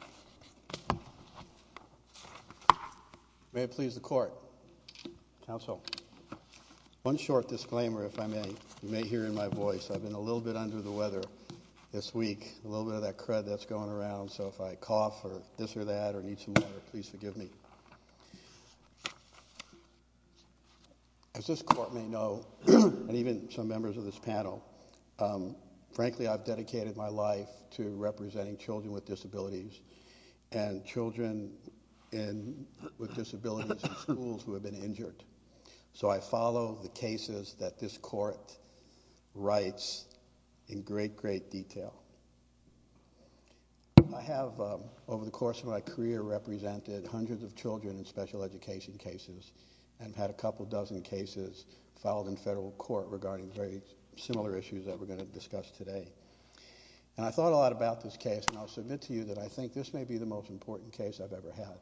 al. May it please the Court. Counsel, one short disclaimer if I may. You may hear in my voice. I've been a little bit under the weather this week, a little bit of that crud that's going around, so if I cough or this or that or need some water, please forgive me. As this Court may know, and even some members of this panel, frankly I've dedicated my life to representing children with disabilities and children with disabilities in schools who have been injured. So I follow the cases that this Court writes in great, great detail. I have, over the course of my career, represented hundreds of children in special education cases and had a couple dozen cases filed in federal court regarding very similar issues that we're going to discuss today. And I thought a lot about this case and I'll submit to you that I think this may be the most important case I've ever had.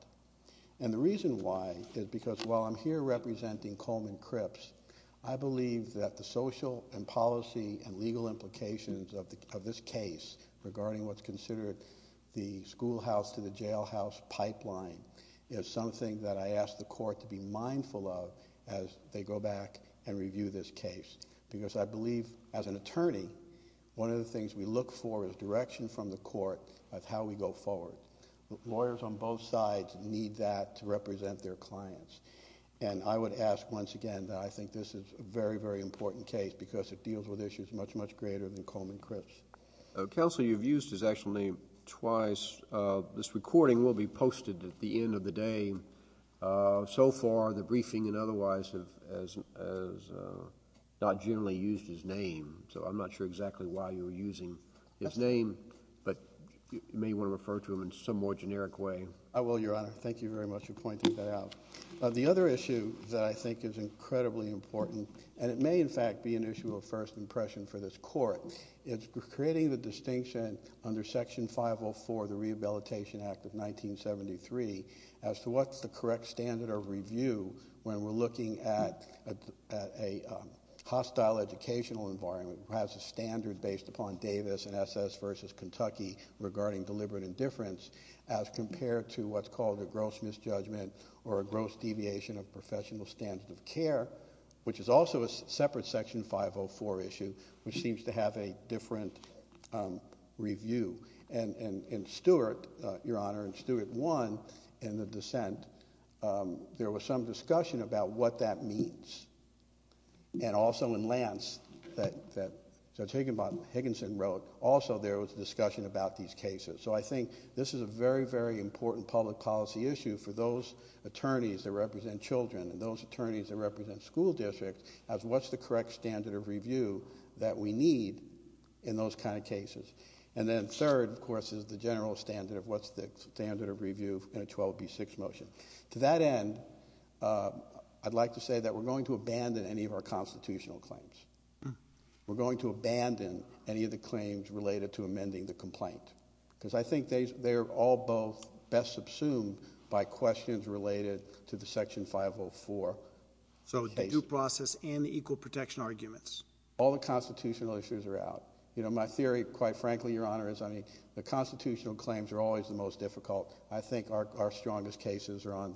And the reason why is because while I'm here representing Coleman Cripps, I believe that the social and policy and legal implications of this case regarding what's considered the schoolhouse to the jailhouse pipeline is something that I ask the Court to be mindful of as they go back and review this case. Because I believe as an attorney, one of the things we look for is direction from the Court of how we go forward. Lawyers on both sides need that to represent their clients. And I would ask once again that I think this is a very, very important case because it deals with issues much, much greater than Coleman Cripps. The counsel you've used his actual name twice. This recording will be posted at the end of the day. And so far, the briefing and otherwise have not generally used his name, so I'm not sure exactly why you're using his name, but you may want to refer to him in some more generic way. I will, Your Honor. Thank you very much for pointing that out. The other issue that I think is incredibly important, and it may in fact be an issue of first impression for this Court, is creating the distinction under Section 504, the Rehabilitation Act of 1973, as to what's the correct standard of review when we're looking at a hostile educational environment who has a standard based upon Davis and SS versus Kentucky regarding deliberate indifference as compared to what's called a gross misjudgment or a gross deviation of professional standard of care, which is also a separate Section 504 issue, which seems to have a different review. And in Stewart, Your Honor, in Stewart 1, in the dissent, there was some discussion about what that means. And also in Lance that Judge Higginson wrote, also there was discussion about these cases. So I think this is a very, very important public policy issue for those attorneys that represent children and those attorneys that represent school districts as what's the correct standard of review for these cases. And then third, of course, is the general standard of what's the standard of review in a 12B6 motion. To that end, I'd like to say that we're going to abandon any of our constitutional claims. We're going to abandon any of the claims related to amending the complaint. Because I think they're all both best subsumed by questions related to the Section 504 case. So the due process and the equal protection arguments. All the constitutional issues are out. You know, my theory, quite frankly, Your Honor, is, I mean, the constitutional claims are always the most difficult. I think our strongest cases are on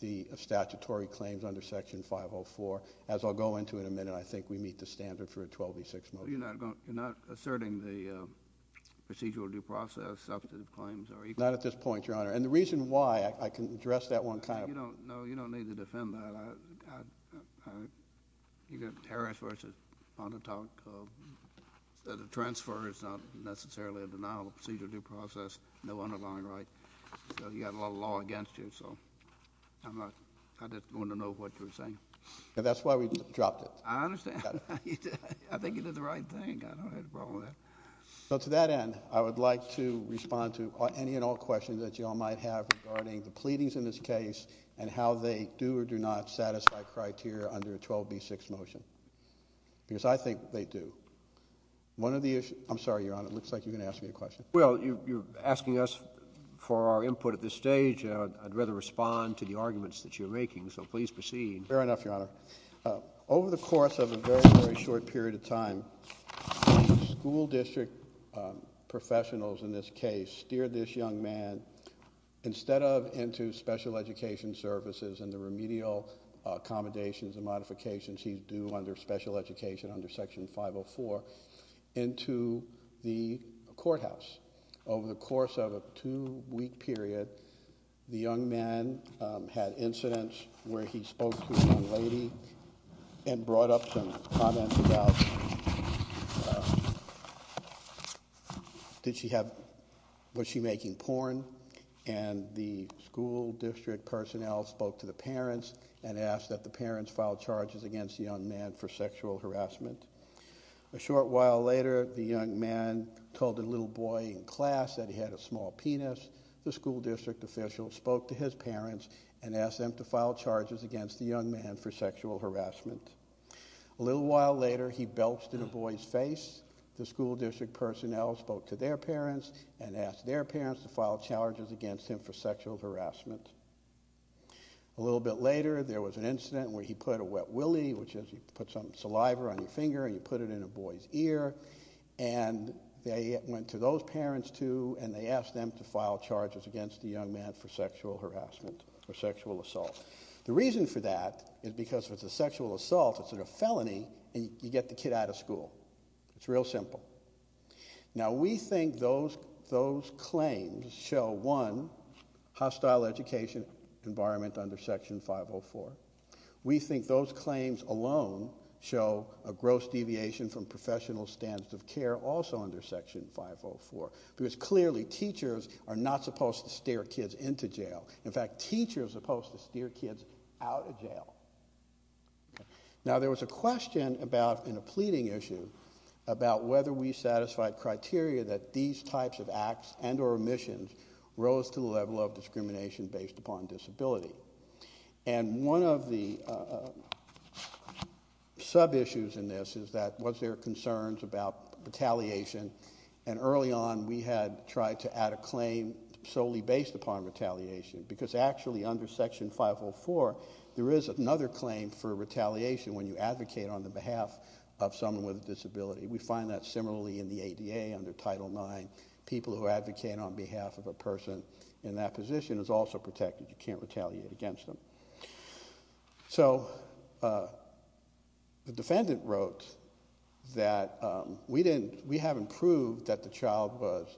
the statutory claims under Section 504. As I'll go into in a minute, I think we meet the standard for a 12B6 motion. You're not asserting the procedural due process substantive claims are equal? Not at this point, Your Honor. And the reason why, I can address that one kind of. No, you don't need to defend that. I mean, you know, Harris v. Montauk, the transfer is not necessarily a denial of procedural due process. No underlying right. So you've got a lot of law against you, so I just wanted to know what you were saying. That's why we dropped it. I understand. I think you did the right thing. I don't have a problem with that. So to that end, I would like to respond to any and all questions that you all might have regarding the pleadings in this case and how they do or do not satisfy criteria under a 12B6 motion, because I think they do. One of the issues... I'm sorry, Your Honor, it looks like you're going to ask me a question. Well, you're asking us for our input at this stage, and I'd rather respond to the arguments that you're making, so please proceed. Fair enough, Your Honor. Over the course of a very, very short period of time, school district professionals in this case steered this young man, instead of into special education services and the remedial accommodations and modifications he's due under special education under Section 504, into the courthouse. Over the course of a two-week period, the young man had incidents where he spoke to a young lady and brought up some comments about... did she have... did she have... was she making porn? The school district personnel spoke to the parents and asked that the parents file charges against the young man for sexual harassment. A short while later, the young man told the little boy in class that he had a small penis. The school district official spoke to his parents and asked them to file charges against the young man for sexual harassment. A little while later, he belched in a boy's face. The school district personnel spoke to their parents and asked their parents to file charges against him for sexual harassment. A little bit later, there was an incident where he put a wet willy, which is you put some saliva on your finger and you put it in a boy's ear, and they went to those parents too, and they asked them to file charges against the young man for sexual harassment or sexual assault. The reason for that is because if it's a sexual assault, it's a felony, and you get the kid out of school. It's real simple. Now, we think those those claims show, one, hostile education environment under Section 504. We think those claims alone show a gross deviation from professional standards of care also under Section 504, because clearly teachers are not supposed to steer kids into jail. In fact, teachers are supposed to steer kids out of jail. Now, there was a question about and a pleading issue about whether we satisfied criteria that these types of acts and or omissions rose to the level of discrimination based upon disability. And one of the sub issues in this is that was there concerns about retaliation? And early on, we had tried to add a claim solely based upon retaliation, because actually under Section 504, there is another claim for retaliation when you advocate on the behalf of someone with a disability. We find that similarly in the ADA under Title 9. People who advocate on behalf of a person in that position is also protected. You can't retaliate against them. So the defendant wrote that we didn't we haven't proved that the child was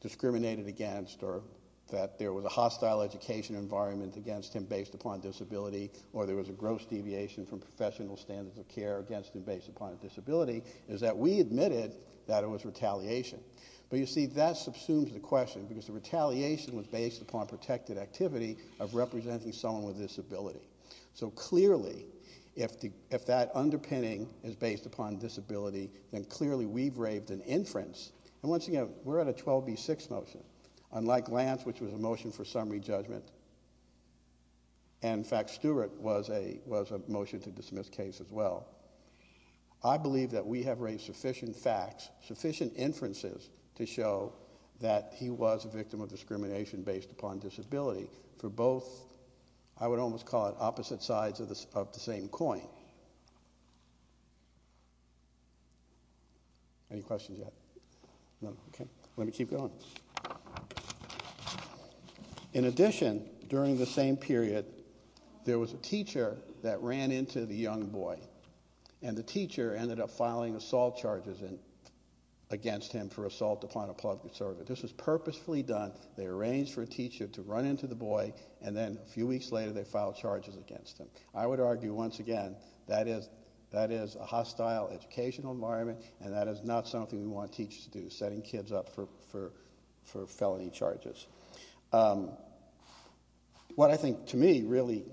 discriminated against or that there was a hostile education environment against him based upon disability or there was a gross deviation from professional standards of care against him based upon disability is that we admitted that it was retaliation. But you see, that subsumes the question because the retaliation was based upon protected activity of representing someone with disability. So clearly, if that underpinning is based upon disability, then clearly we've raved an inference. And once again, we're at a 12B6 motion. Unlike Lance, which was a motion for summary judgment. And in fact, Stewart was a was a motion to dismiss case as well. I believe that we have raised sufficient facts, sufficient inferences to show that he was a victim of discrimination based upon disability for both. I would almost call it opposite sides of the same coin. Any questions yet? No. Let me keep going. In addition, during the same period, there was a teacher that ran into the young boy and the teacher ended up filing assault charges against him for assault upon a public servant. This was purposefully done. They arranged for a teacher to run into the boy. And then a few weeks later, they filed charges against him. I would argue, once again, that is that is a hostile educational environment. And that is not something we want teachers to do, setting kids up for felony charges. What I think to me, really,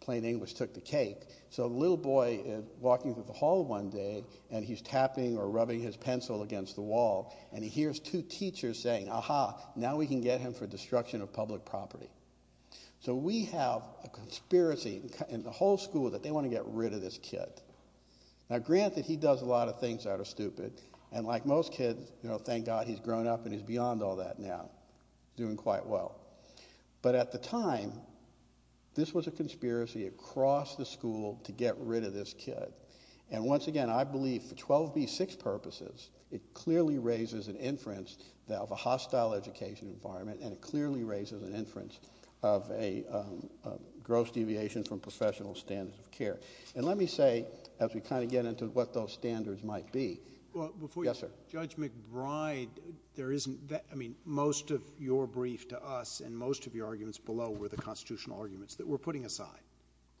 plain English took the cake. So a little boy walking through the hall one day and he's tapping or rubbing his pencil against the wall and he hears two teachers saying, aha, now we can get him for destruction of public property. So we have a conspiracy in the whole school that they want to get rid of this kid. Now, granted, he does a lot of things that are stupid. And like most kids, you know, thank God he's grown up and he's beyond all that now doing quite well. But at the time, this was a conspiracy across the school to get rid of this kid. And once again, I believe for 12B6 purposes, it clearly raises an inference of a hostile education environment and it clearly raises an inference of a gross deviation from professional standards of care. And let me say, as we kind of get into what those standards might be. Well, before you, Judge McBride, there isn't that I mean, most of your brief to us and most of your arguments below were the constitutional arguments that we're putting aside.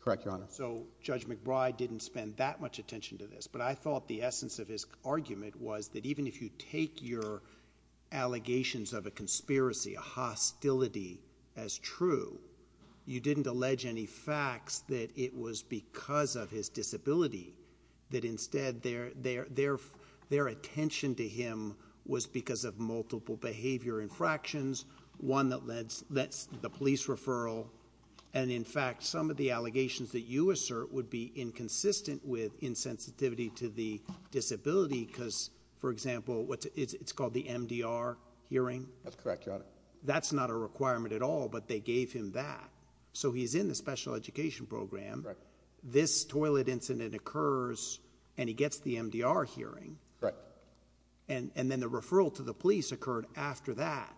Correct, Your Honor. So Judge McBride didn't spend that much attention to this. But I thought the essence of his argument was that even if you take your allegations of a conspiracy, a hostility as true, you didn't allege any facts that it was because of his disability that instead their their their their attention to him was because of multiple behavior infractions, one that led that's the police referral. And in fact, some of the allegations that you assert would be inconsistent with insensitivity to the disability, because, for example, it's called the MDR hearing. That's correct. That's not a requirement at all. But they gave him that. So he's in the special education program. Right. This toilet incident occurs and he gets the MDR hearing. Right. And then the referral to the police occurred after that.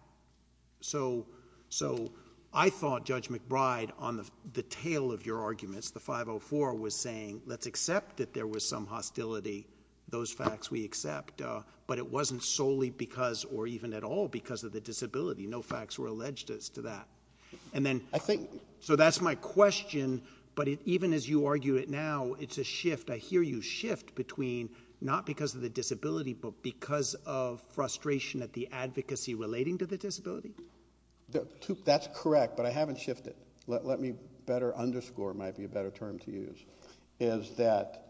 So so I thought Judge McBride on the tail of your arguments, the 504 was saying, let's accept that there was some hostility, those facts we accept. But it wasn't solely because or even at all because of the disability, no facts were alleged as to that. And then I think so that's my question. But even as you argue it now, it's a shift. I hear you shift between not because of the disability, but because of frustration at the advocacy relating to the disability. That's correct. But I haven't shifted. Let me better underscore might be a better term to use is that.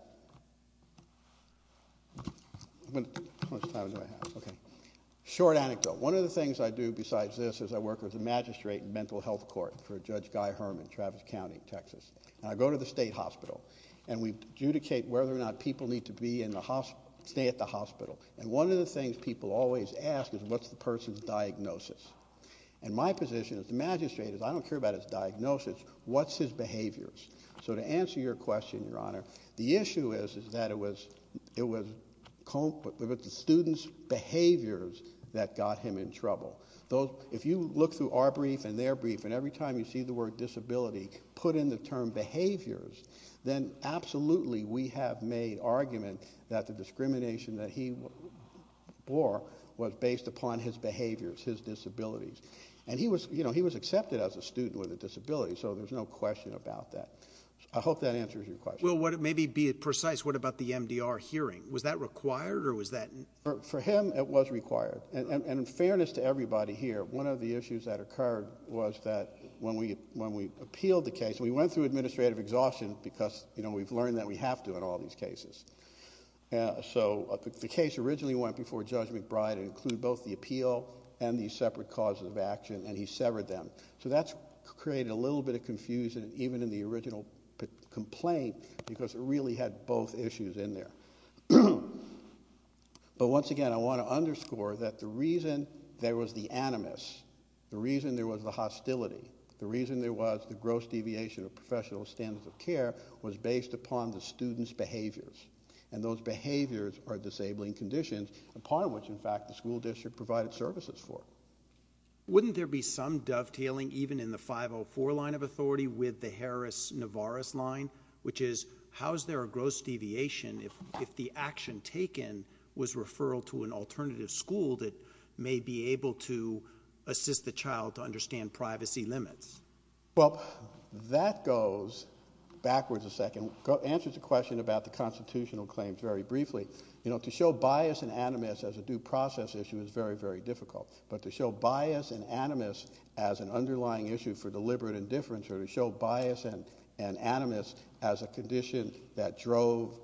How much time do I have? OK. Short anecdote. One of the things I do besides this is I work with the magistrate in mental health court for Judge Guy Herman, Travis County, Texas. And I go to the state hospital and we adjudicate whether or not people need to be in the hospital, stay at the hospital. And one of the things people always ask is what's the person's diagnosis? And my position is the magistrate is I don't care about his diagnosis. So to answer your question, Your Honor, the issue is that the person's diagnosis is that it was it was the student's behaviors that got him in trouble. Though, if you look through our brief and their brief and every time you see the word disability put in the term behaviors, then absolutely we have made argument that the discrimination that he bore was based upon his behaviors, his disabilities. And he was you know, he was accepted as a student with a disability. So there's no question about that. I hope that answers your question. Well, what maybe be precise. What about the MDR hearing? Was that required or was that for him? It was required. And in fairness to everybody here, one of the issues that occurred was that when we when we appealed the case, we went through administrative exhaustion because, you know, we've learned that we have to in all these cases. So the case originally went before Judge McBride include both the appeal and the separate causes of action. And he severed them. So that's created a little bit of confusion, even in the original complaint, because it really had both issues in there. But once again, I want to underscore that the reason there was the animus, the reason there was the hostility, the reason there was the gross deviation of professional standards of care was based upon the student's behaviors. And those behaviors are disabling conditions upon which, in fact, the school district provided services for. Wouldn't there be some dovetailing, even in the 504 line of authority with the Harris Navarro's line, which is how is there a gross deviation if if the action taken was referral to an alternative school that may be able to assist the child to understand privacy limits? Well, that goes backwards a second, answers the question about the constitutional claims very briefly. You know, to show bias and animus as a due process issue is very, very difficult. But to show bias and animus as an underlying issue for deliberate indifference or to show bias and animus as a condition that drove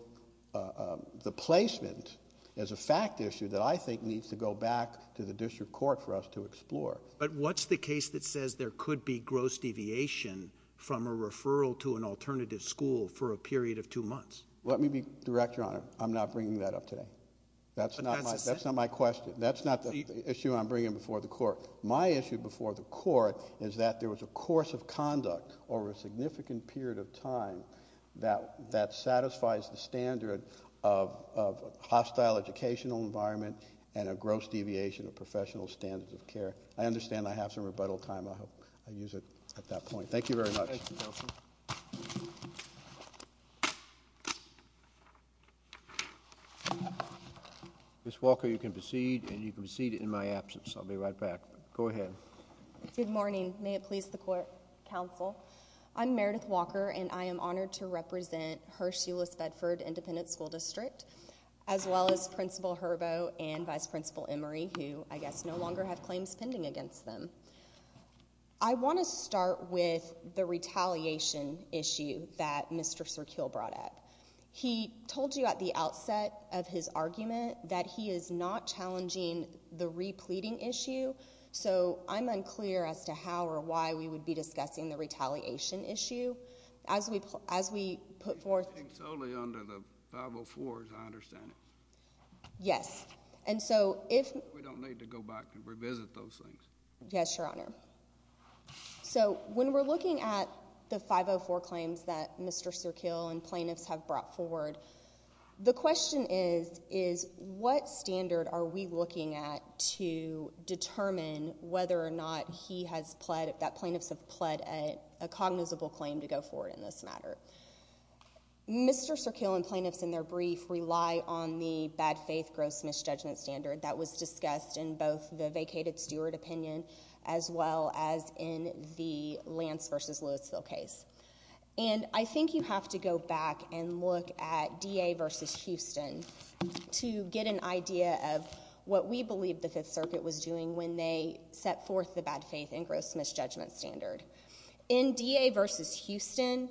the placement as a fact issue that I think needs to go back to the district court for us to explore. But what's the case that says there could be gross deviation from a referral to an alternative school for a period of two months? Let me be direct, Your Honor. I'm not bringing that up today. That's not my that's not my question. That's not the issue I'm bringing before the court. My issue before the court is that there was a course of conduct over a significant period of time that that satisfies the standard of of hostile educational environment and a gross deviation of professional standards of care. I understand I have some rebuttal time. I hope I use it at that point. Thank you very much. Counsel. Miss Walker, you can proceed and you can proceed in my absence. I'll be right back. Go ahead. Good morning. May it please the court. Counsel, I'm Meredith Walker and I am honored to represent her. She was Bedford Independent School District, as well as Principal Herbo and Vice Principal Emery, who I guess no longer have claims pending against them. I want to start with the retaliation issue that Mr. Sirkill brought up. He told you at the outset of his argument that he is not challenging the repleting issue. So I'm unclear as to how or why we would be discussing the retaliation issue as we as we put forth. I think it's only under the 504, as I understand it. Yes. And so if we don't need to go back and revisit those things. Yes, Your Honor. So when we're looking at the 504 claims that Mr. Sirkill and plaintiffs have brought forward, the question is, is what standard are we looking at to determine whether or not he has pled that plaintiffs have pled a cognizable claim to go forward in this matter? Mr. Sirkill and plaintiffs in their brief rely on the bad faith gross misjudgment standard that was discussed in both the vacated steward opinion as well as in the Lance versus Louisville case. And I think you have to go back and look at DA versus Houston to get an idea of what we believe the Fifth Circuit was doing when they set forth the bad faith and gross misjudgment standard. In DA versus Houston,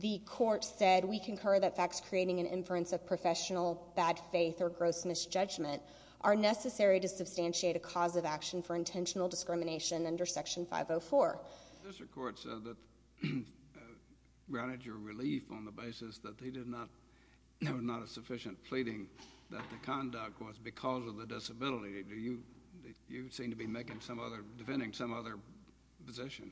the court said, we concur that facts creating an inference of professional bad faith or gross misjudgment are necessary to substantiate a cause of action for intentional discrimination under Section 504. This court said that, granted your relief on the basis that they did not, there was not a sufficient pleading that the conduct was because of the disability. Do you, you seem to be making some other, defending some other position.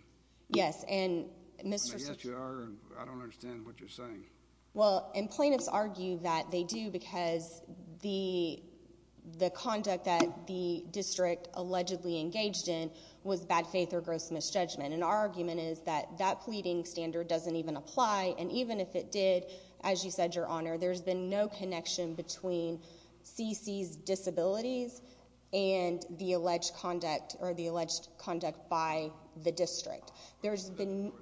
Yes. And Mr. Yes, you are. I don't understand what you're saying. Well, and plaintiffs argue that they do because the, the conduct that the district allegedly engaged in was bad faith or gross misjudgment. And our argument is that that pleading standard doesn't even apply. And even if it did, as you said, your honor, there's been no connection between CC's disabilities and the alleged conduct or the alleged conduct by the district. There's been.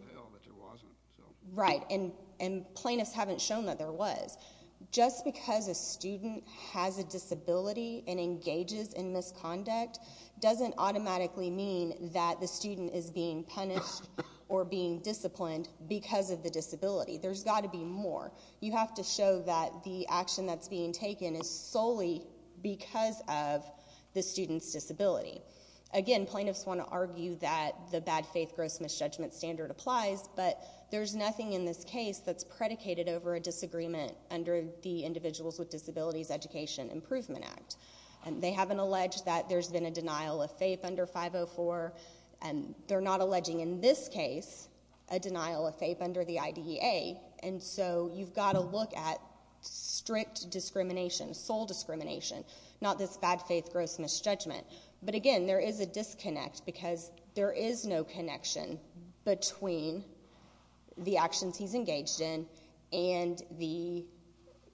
Right. And, and plaintiffs haven't shown that there was just because a student has a disability and engages in misconduct doesn't automatically mean that the student is being punished or being disciplined because of the disability. There's got to be more. You have to show that the action that's being taken is solely because of the student's disability. Again, plaintiffs want to argue that the bad faith gross misjudgment standard applies, but there's nothing in this case that's predicated over a disagreement under the individuals with disabilities education improvement act. And they haven't alleged that there's been a denial of faith under 504. And they're not alleging in this case, a denial of faith under the IDEA. And so you've got to look at strict discrimination, sole discrimination, not this bad faith, gross misjudgment. But again, there is a disconnect because there is no connection between the actions he's engaged in and the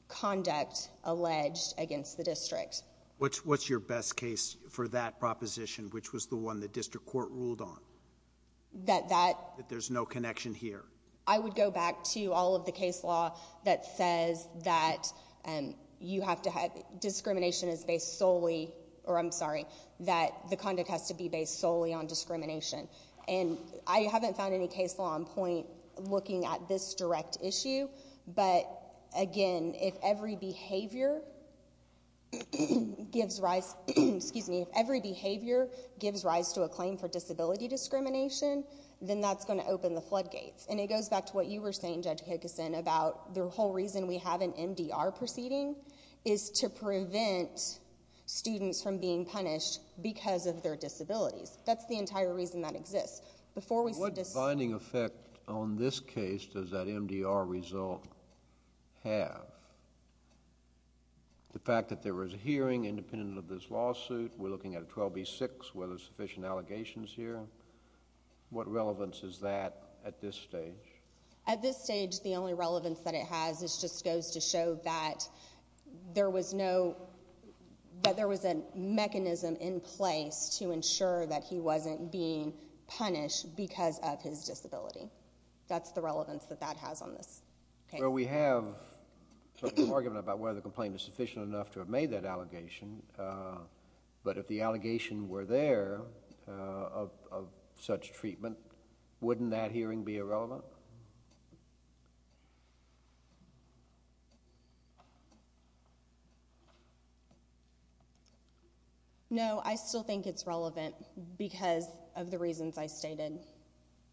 conduct alleged against the district. What's, what's your best case for that proposition, which was the one that district court ruled on. That, that, that there's no connection here. I would go back to all of the case law that says that, um, you have to discrimination is based solely, or I'm sorry, that the conduct has to be based solely on discrimination. And I haven't found any case law on point looking at this direct issue. But again, if every behavior gives rise, excuse me, if every behavior gives rise to a claim for disability discrimination, then that's going to open the floodgates. And it goes back to what you were saying, judge Hickison about the whole reason we have an MDR proceeding is to prevent students from being punished because of their disabilities. That's the entire reason that exists. Before we said this. What binding effect on this case does that MDR result have? The fact that there was a hearing independent of this lawsuit, we're looking at a 12B6, were there sufficient allegations here? What relevance is that at this stage? At this stage, the only relevance that it has is just goes to show that there was no, that there was a mechanism in place to ensure that he wasn't being punished because of his disability. That's the relevance that that has on this. Okay. Well, we have some argument about whether the complaint is sufficient enough to have made that allegation. Uh, but if the allegation were there, uh, of, of such treatment, wouldn't that hearing be irrelevant? No, I still think it's relevant because of the reasons I stated.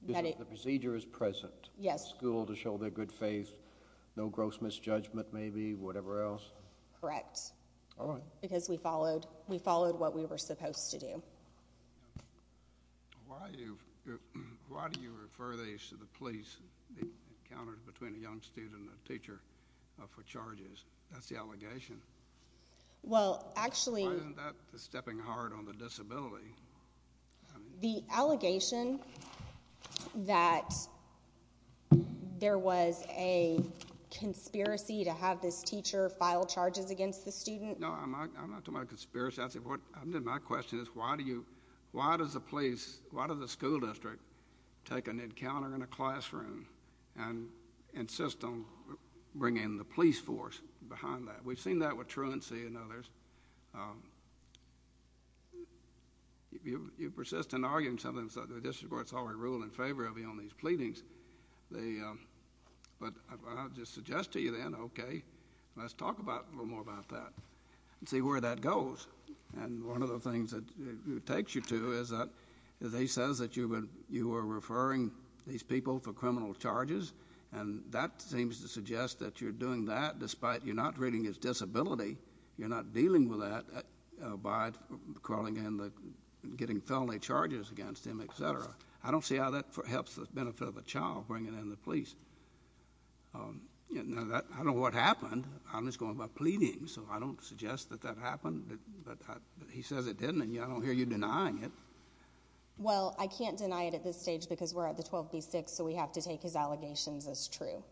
The procedure is present. Yes. School to show their good faith. No gross misjudgment, maybe whatever else. Correct. All right. Because we followed, we followed what we were supposed to do. Why do you, why do you refer these to the police encounters between a young student and a teacher for charges? That's the allegation. Well, actually, stepping hard on the disability, the allegation that there was a conspiracy to have this teacher file charges against the student. No, I'm not, I'm not talking about conspiracy. I said, what I'm doing, my question is why do you, why does the police, why does the school district take an encounter in a classroom and insist on bringing the police force behind that? We've seen that with truancy and others. Um, you, you persist in arguing something. So the district court's already ruled in favor of you on these pleadings. They, um, but I'll just suggest to you then, okay, let's talk about a little more about that and see where that goes. And one of the things that it takes you to is that they says that you would, you were referring these people for criminal charges and that seems to suggest that you're doing that despite you're not reading his disability, you're not dealing with that, uh, by calling in the getting felony charges against him, et cetera. I don't see how that helps the benefit of a child bringing in the police. Um, you know that I don't know what happened. I'm just going by pleading. So I don't suggest that that happened, but he says it didn't. And yeah, I don't hear you denying it. Well, I can't deny it at this stage because we're at the 12 B six. So we have to take his allegations as true.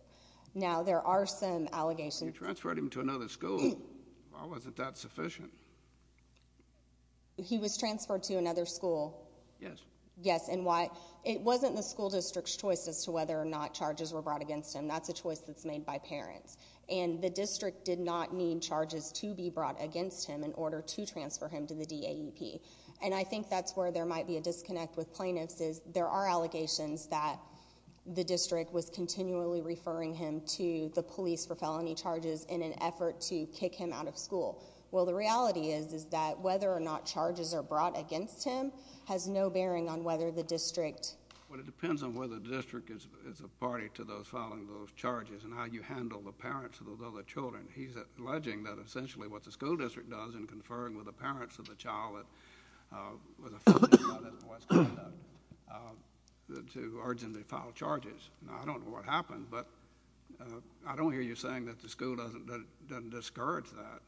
Now there are some allegations. You transferred him to another school. Why wasn't that sufficient? He was transferred to another school. Yes. Yes. And why it wasn't the school district's choices to whether or not charges were brought against him. That's a choice that's made by parents and the district did not need charges to be brought against him in order to transfer him to the D A E P. And I think that's where there might be a disconnect with plaintiffs is there are allegations that the district was continually referring him to the police for felony charges in an effort to kick him out of school. Well, the reality is, is that whether or not charges are brought against him has no bearing on whether the district. Well, it depends on where the district is. It's a party to those following those charges and how you handle the parents of those other children. He's alleging that essentially what the school district does in conferring with the parents of the child that was affected by this boy's conduct to urgently file charges. Now, I don't know what happened, but I don't hear you saying that the school doesn't discourage that.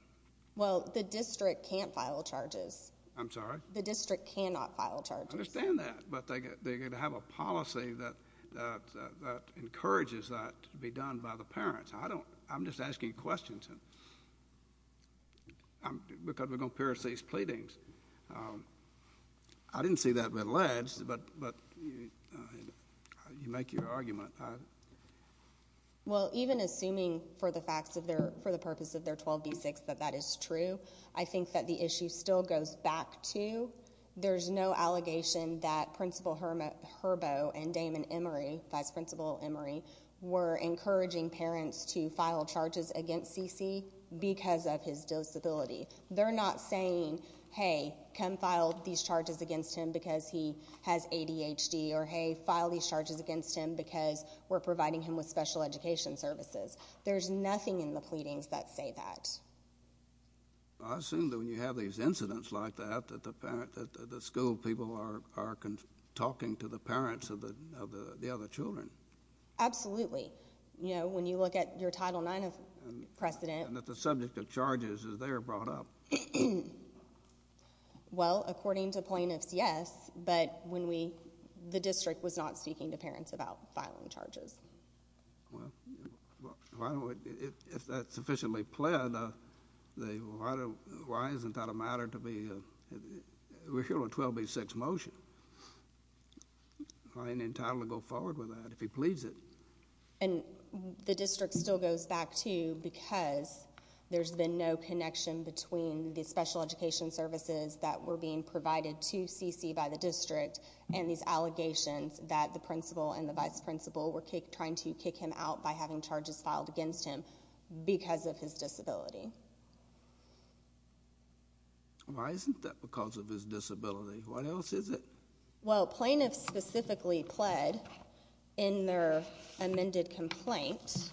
Well, the district can't file charges. I'm sorry? The district cannot file charges. I understand that, but they have a policy that encourages that to be done by the parents. I don't I'm just asking questions because we're going to pierce these pleadings. I didn't see that but alleged but but you make your argument. Well, even assuming for the facts of their for the purpose of their 12 v 6 that that is true, I think that the issue still goes back to there's no allegation that Principal Hermit Herbo and Damon Emery, Vice Principal Emery, were encouraging parents to file charges against CC because of his disability. They're not saying, hey, come file these charges against him because he has ADHD or hey, file these charges against him because we're providing him with special education services. There's nothing in the pleadings that say that. I assume that when you have these incidents like that, that the parent, that the school people are talking to the parents of the other children. Absolutely. You know, when you look at your Title IX precedent. And that the subject of charges is there brought up. Well, according to plaintiffs, yes. But when we the district was not speaking to parents about filing charges. Well, if that's sufficiently pled, why isn't that a matter to be a 12 v 6 motion? I ain't in time to go forward with that if he pleads it. And the district still goes back to because there's been no connection between the special education services that were being provided to CC by the district and these allegations that the principal and the vice principal were trying to kick him out by having charges filed against him because of his disability. Why isn't that because of his disability? What else is it? Well, plaintiffs specifically pled in their amended complaint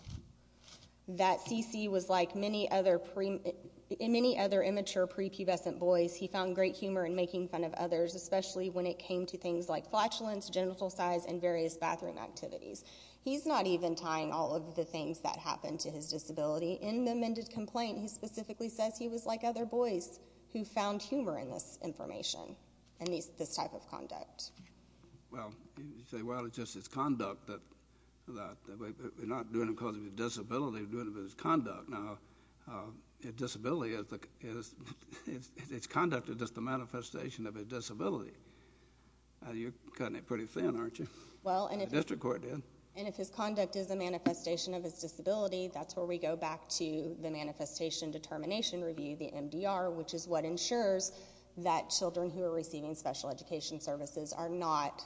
that CC was like many other premature prepubescent boys. He found great humor in making fun of others, especially when it came to things like flatulence, genital size, and various bathroom activities. He's not even tying all of the things that happened to his disability. In the amended complaint, he specifically says he was like other boys who found this type of conduct. Well, you say, well, it's just his conduct that we're not doing it because of his disability, we're doing it because of his conduct. Now, his conduct is just a manifestation of his disability. You're cutting it pretty thin, aren't you? Well, and if his conduct is a manifestation of his disability, that's where we go back to the manifestation determination review, the MDR, which is what ensures that children who are receiving special education services are not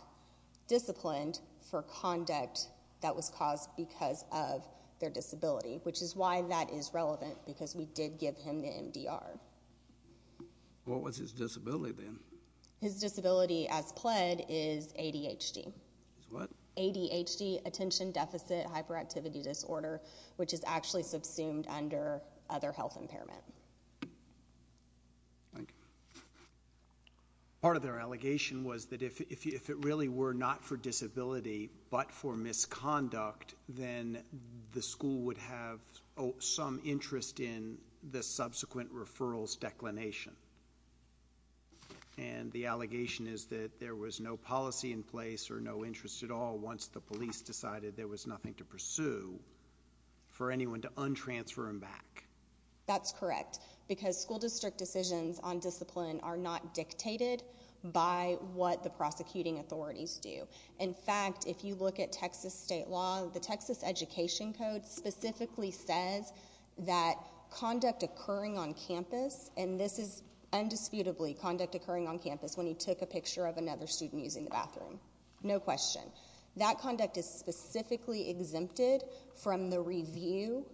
disciplined for conduct that was caused because of their disability, which is why that is relevant because we did give him the MDR. What was his disability then? His disability as pled is ADHD. ADHD, attention deficit hyperactivity disorder, which is actually subsumed under other health impairment. Thank you. Part of their allegation was that if it really were not for disability, but for misconduct, then the school would have some interest in the subsequent referrals declination. And the allegation is that there was no policy in place or no interest at all. Once the police decided there was nothing to pursue for anyone to untransfer him back. That's correct. Because school district decisions on discipline are not dictated by what the prosecuting authorities do. In fact, if you look at Texas state law, the Texas education code specifically says that conduct occurring on campus, and this is undisputably conduct occurring on campus. When he took a picture of another student using the bathroom, no question that conduct is specifically exempted from the review.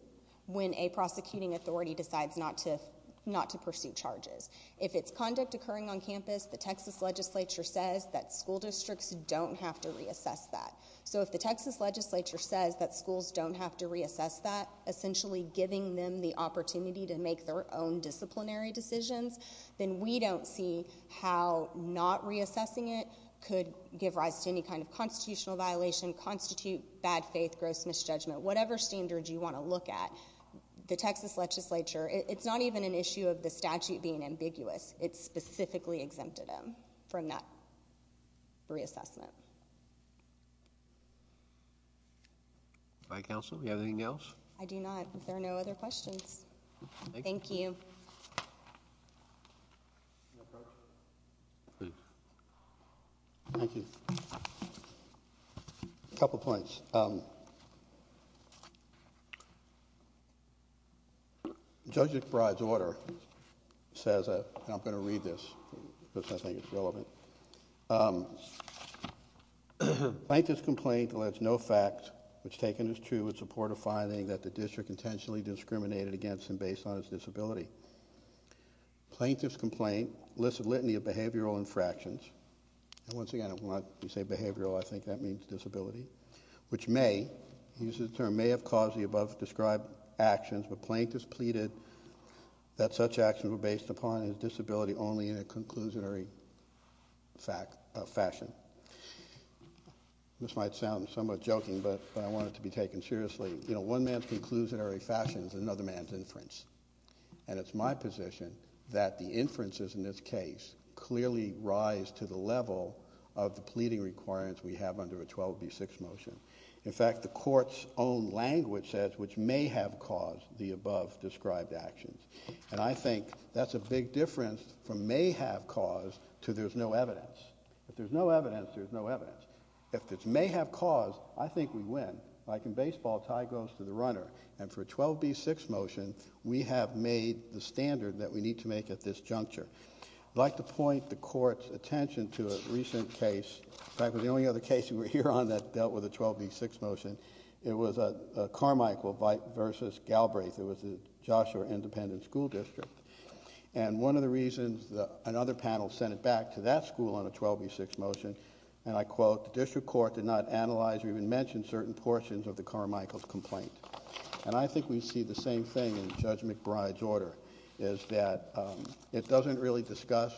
When a prosecuting authority decides not to, not to pursue charges, if it's conduct occurring on campus, the Texas legislature says that school districts don't have to reassess that. So if the Texas legislature says that schools don't have to reassess that essentially giving them the opportunity to make their own disciplinary decisions, then we don't see how not reassessing it could give rise to any kind of constitutional violation, constitute bad faith, gross misjudgment, whatever standard you want to look at, the Texas legislature, it's not even an issue of the statute being ambiguous. It's specifically exempted him from that reassessment. By council. Do you have anything else? I do not. There are no other questions. Thank you. Thank you. A couple of points. Judge McBride's order says, and I'm going to read this because I think it's relevant. Plaintiff's complaint lets no fact which taken as true in support of finding that the district intentionally discriminated against him based on his disability. Plaintiff's complaint lists a litany of behavioral infractions. And once again, when I say behavioral, I think that means disability, which may, he uses the term, may have caused the above described actions, but plaintiff's pleaded that such actions were based upon his disability only in a conclusionary fact, a fashion. This might sound somewhat joking, but I want it to be taken seriously. You know, one man's conclusionary fashion is another man's inference. And it's my position that the inferences in this case clearly rise to the level of the pleading requirements we have under a 12B6 motion. In fact, the court's own language says, which may have caused the above described actions. And I think that's a big difference from may have caused to there's no evidence. If there's no evidence, there's no evidence. If it's may have caused, I think we win. Like in baseball, tie goes to the runner. And for a 12B6 motion, we have made the standard that we need to make at this juncture. I'd like to point the court's attention to a recent case. In fact, it was the only other case we were here on that dealt with a 12B6 motion. It was a Carmichael versus Galbraith. It was the Joshua Independent School District. And one of the reasons that another panel sent it back to that school on a 12B6 motion, and I quote, the district court did not analyze or even mention certain portions of the Carmichael's complaint. And I think we see the same thing in Judge McBride's order is that it doesn't really discuss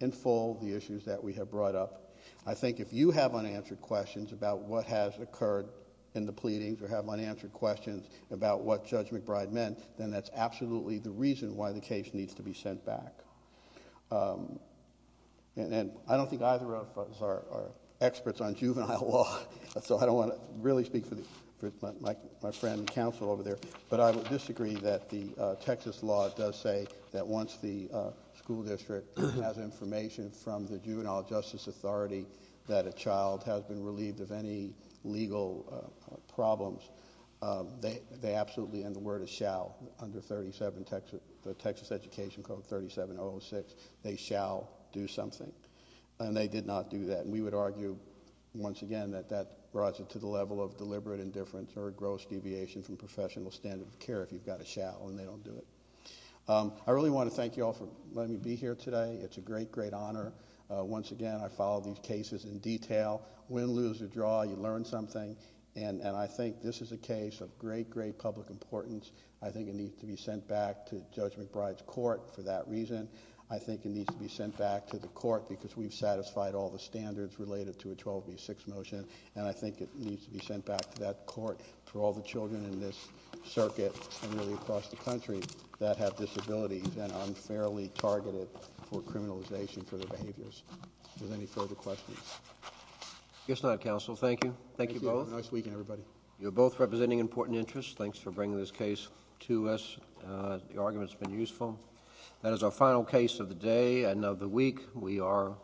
in full the issues that we have brought up. I think if you have unanswered questions about what has occurred in the pleadings or have unanswered questions about what Judge McBride meant, then that's absolutely the reason why the case needs to be sent back. And I don't think either of us are experts on juvenile law, so I don't want to really speak for my friend counsel over there, but I would disagree that the Texas law does say that once the school district has information from the Juvenile Justice Authority that a child has been relieved of any legal problems, they absolutely, and the word is shall, under 37 Texas, the Texas Education Code 3706, they shall do something. And they did not do that. And we would argue, once again, that that brought it to the level of deliberate indifference or gross deviation from professional standard of care if you've got a shall and they don't do it. I really want to thank you all for letting me be here today. It's a great, great honor. Once again, I follow these cases in detail. Win, lose, or draw, you learn something. And I think this is a case of great, great public importance. I think it needs to be sent back to Judge McBride's court for that reason. I think it needs to be sent back to the court because we've satisfied all the standards related to a 12B6 motion, and I think it needs to be sent back to that court for all the children in this circuit and really across the country that have disabilities and are unfairly targeted for criminalization for their behaviors. Is there any further questions? Yes, not counsel. Thank you. Thank you both. Nice weekend, everybody. You're both representing important interests. Thanks for bringing this case to us. Uh, the argument's been useful. That is our final case of the day and of the week. We are adjourned.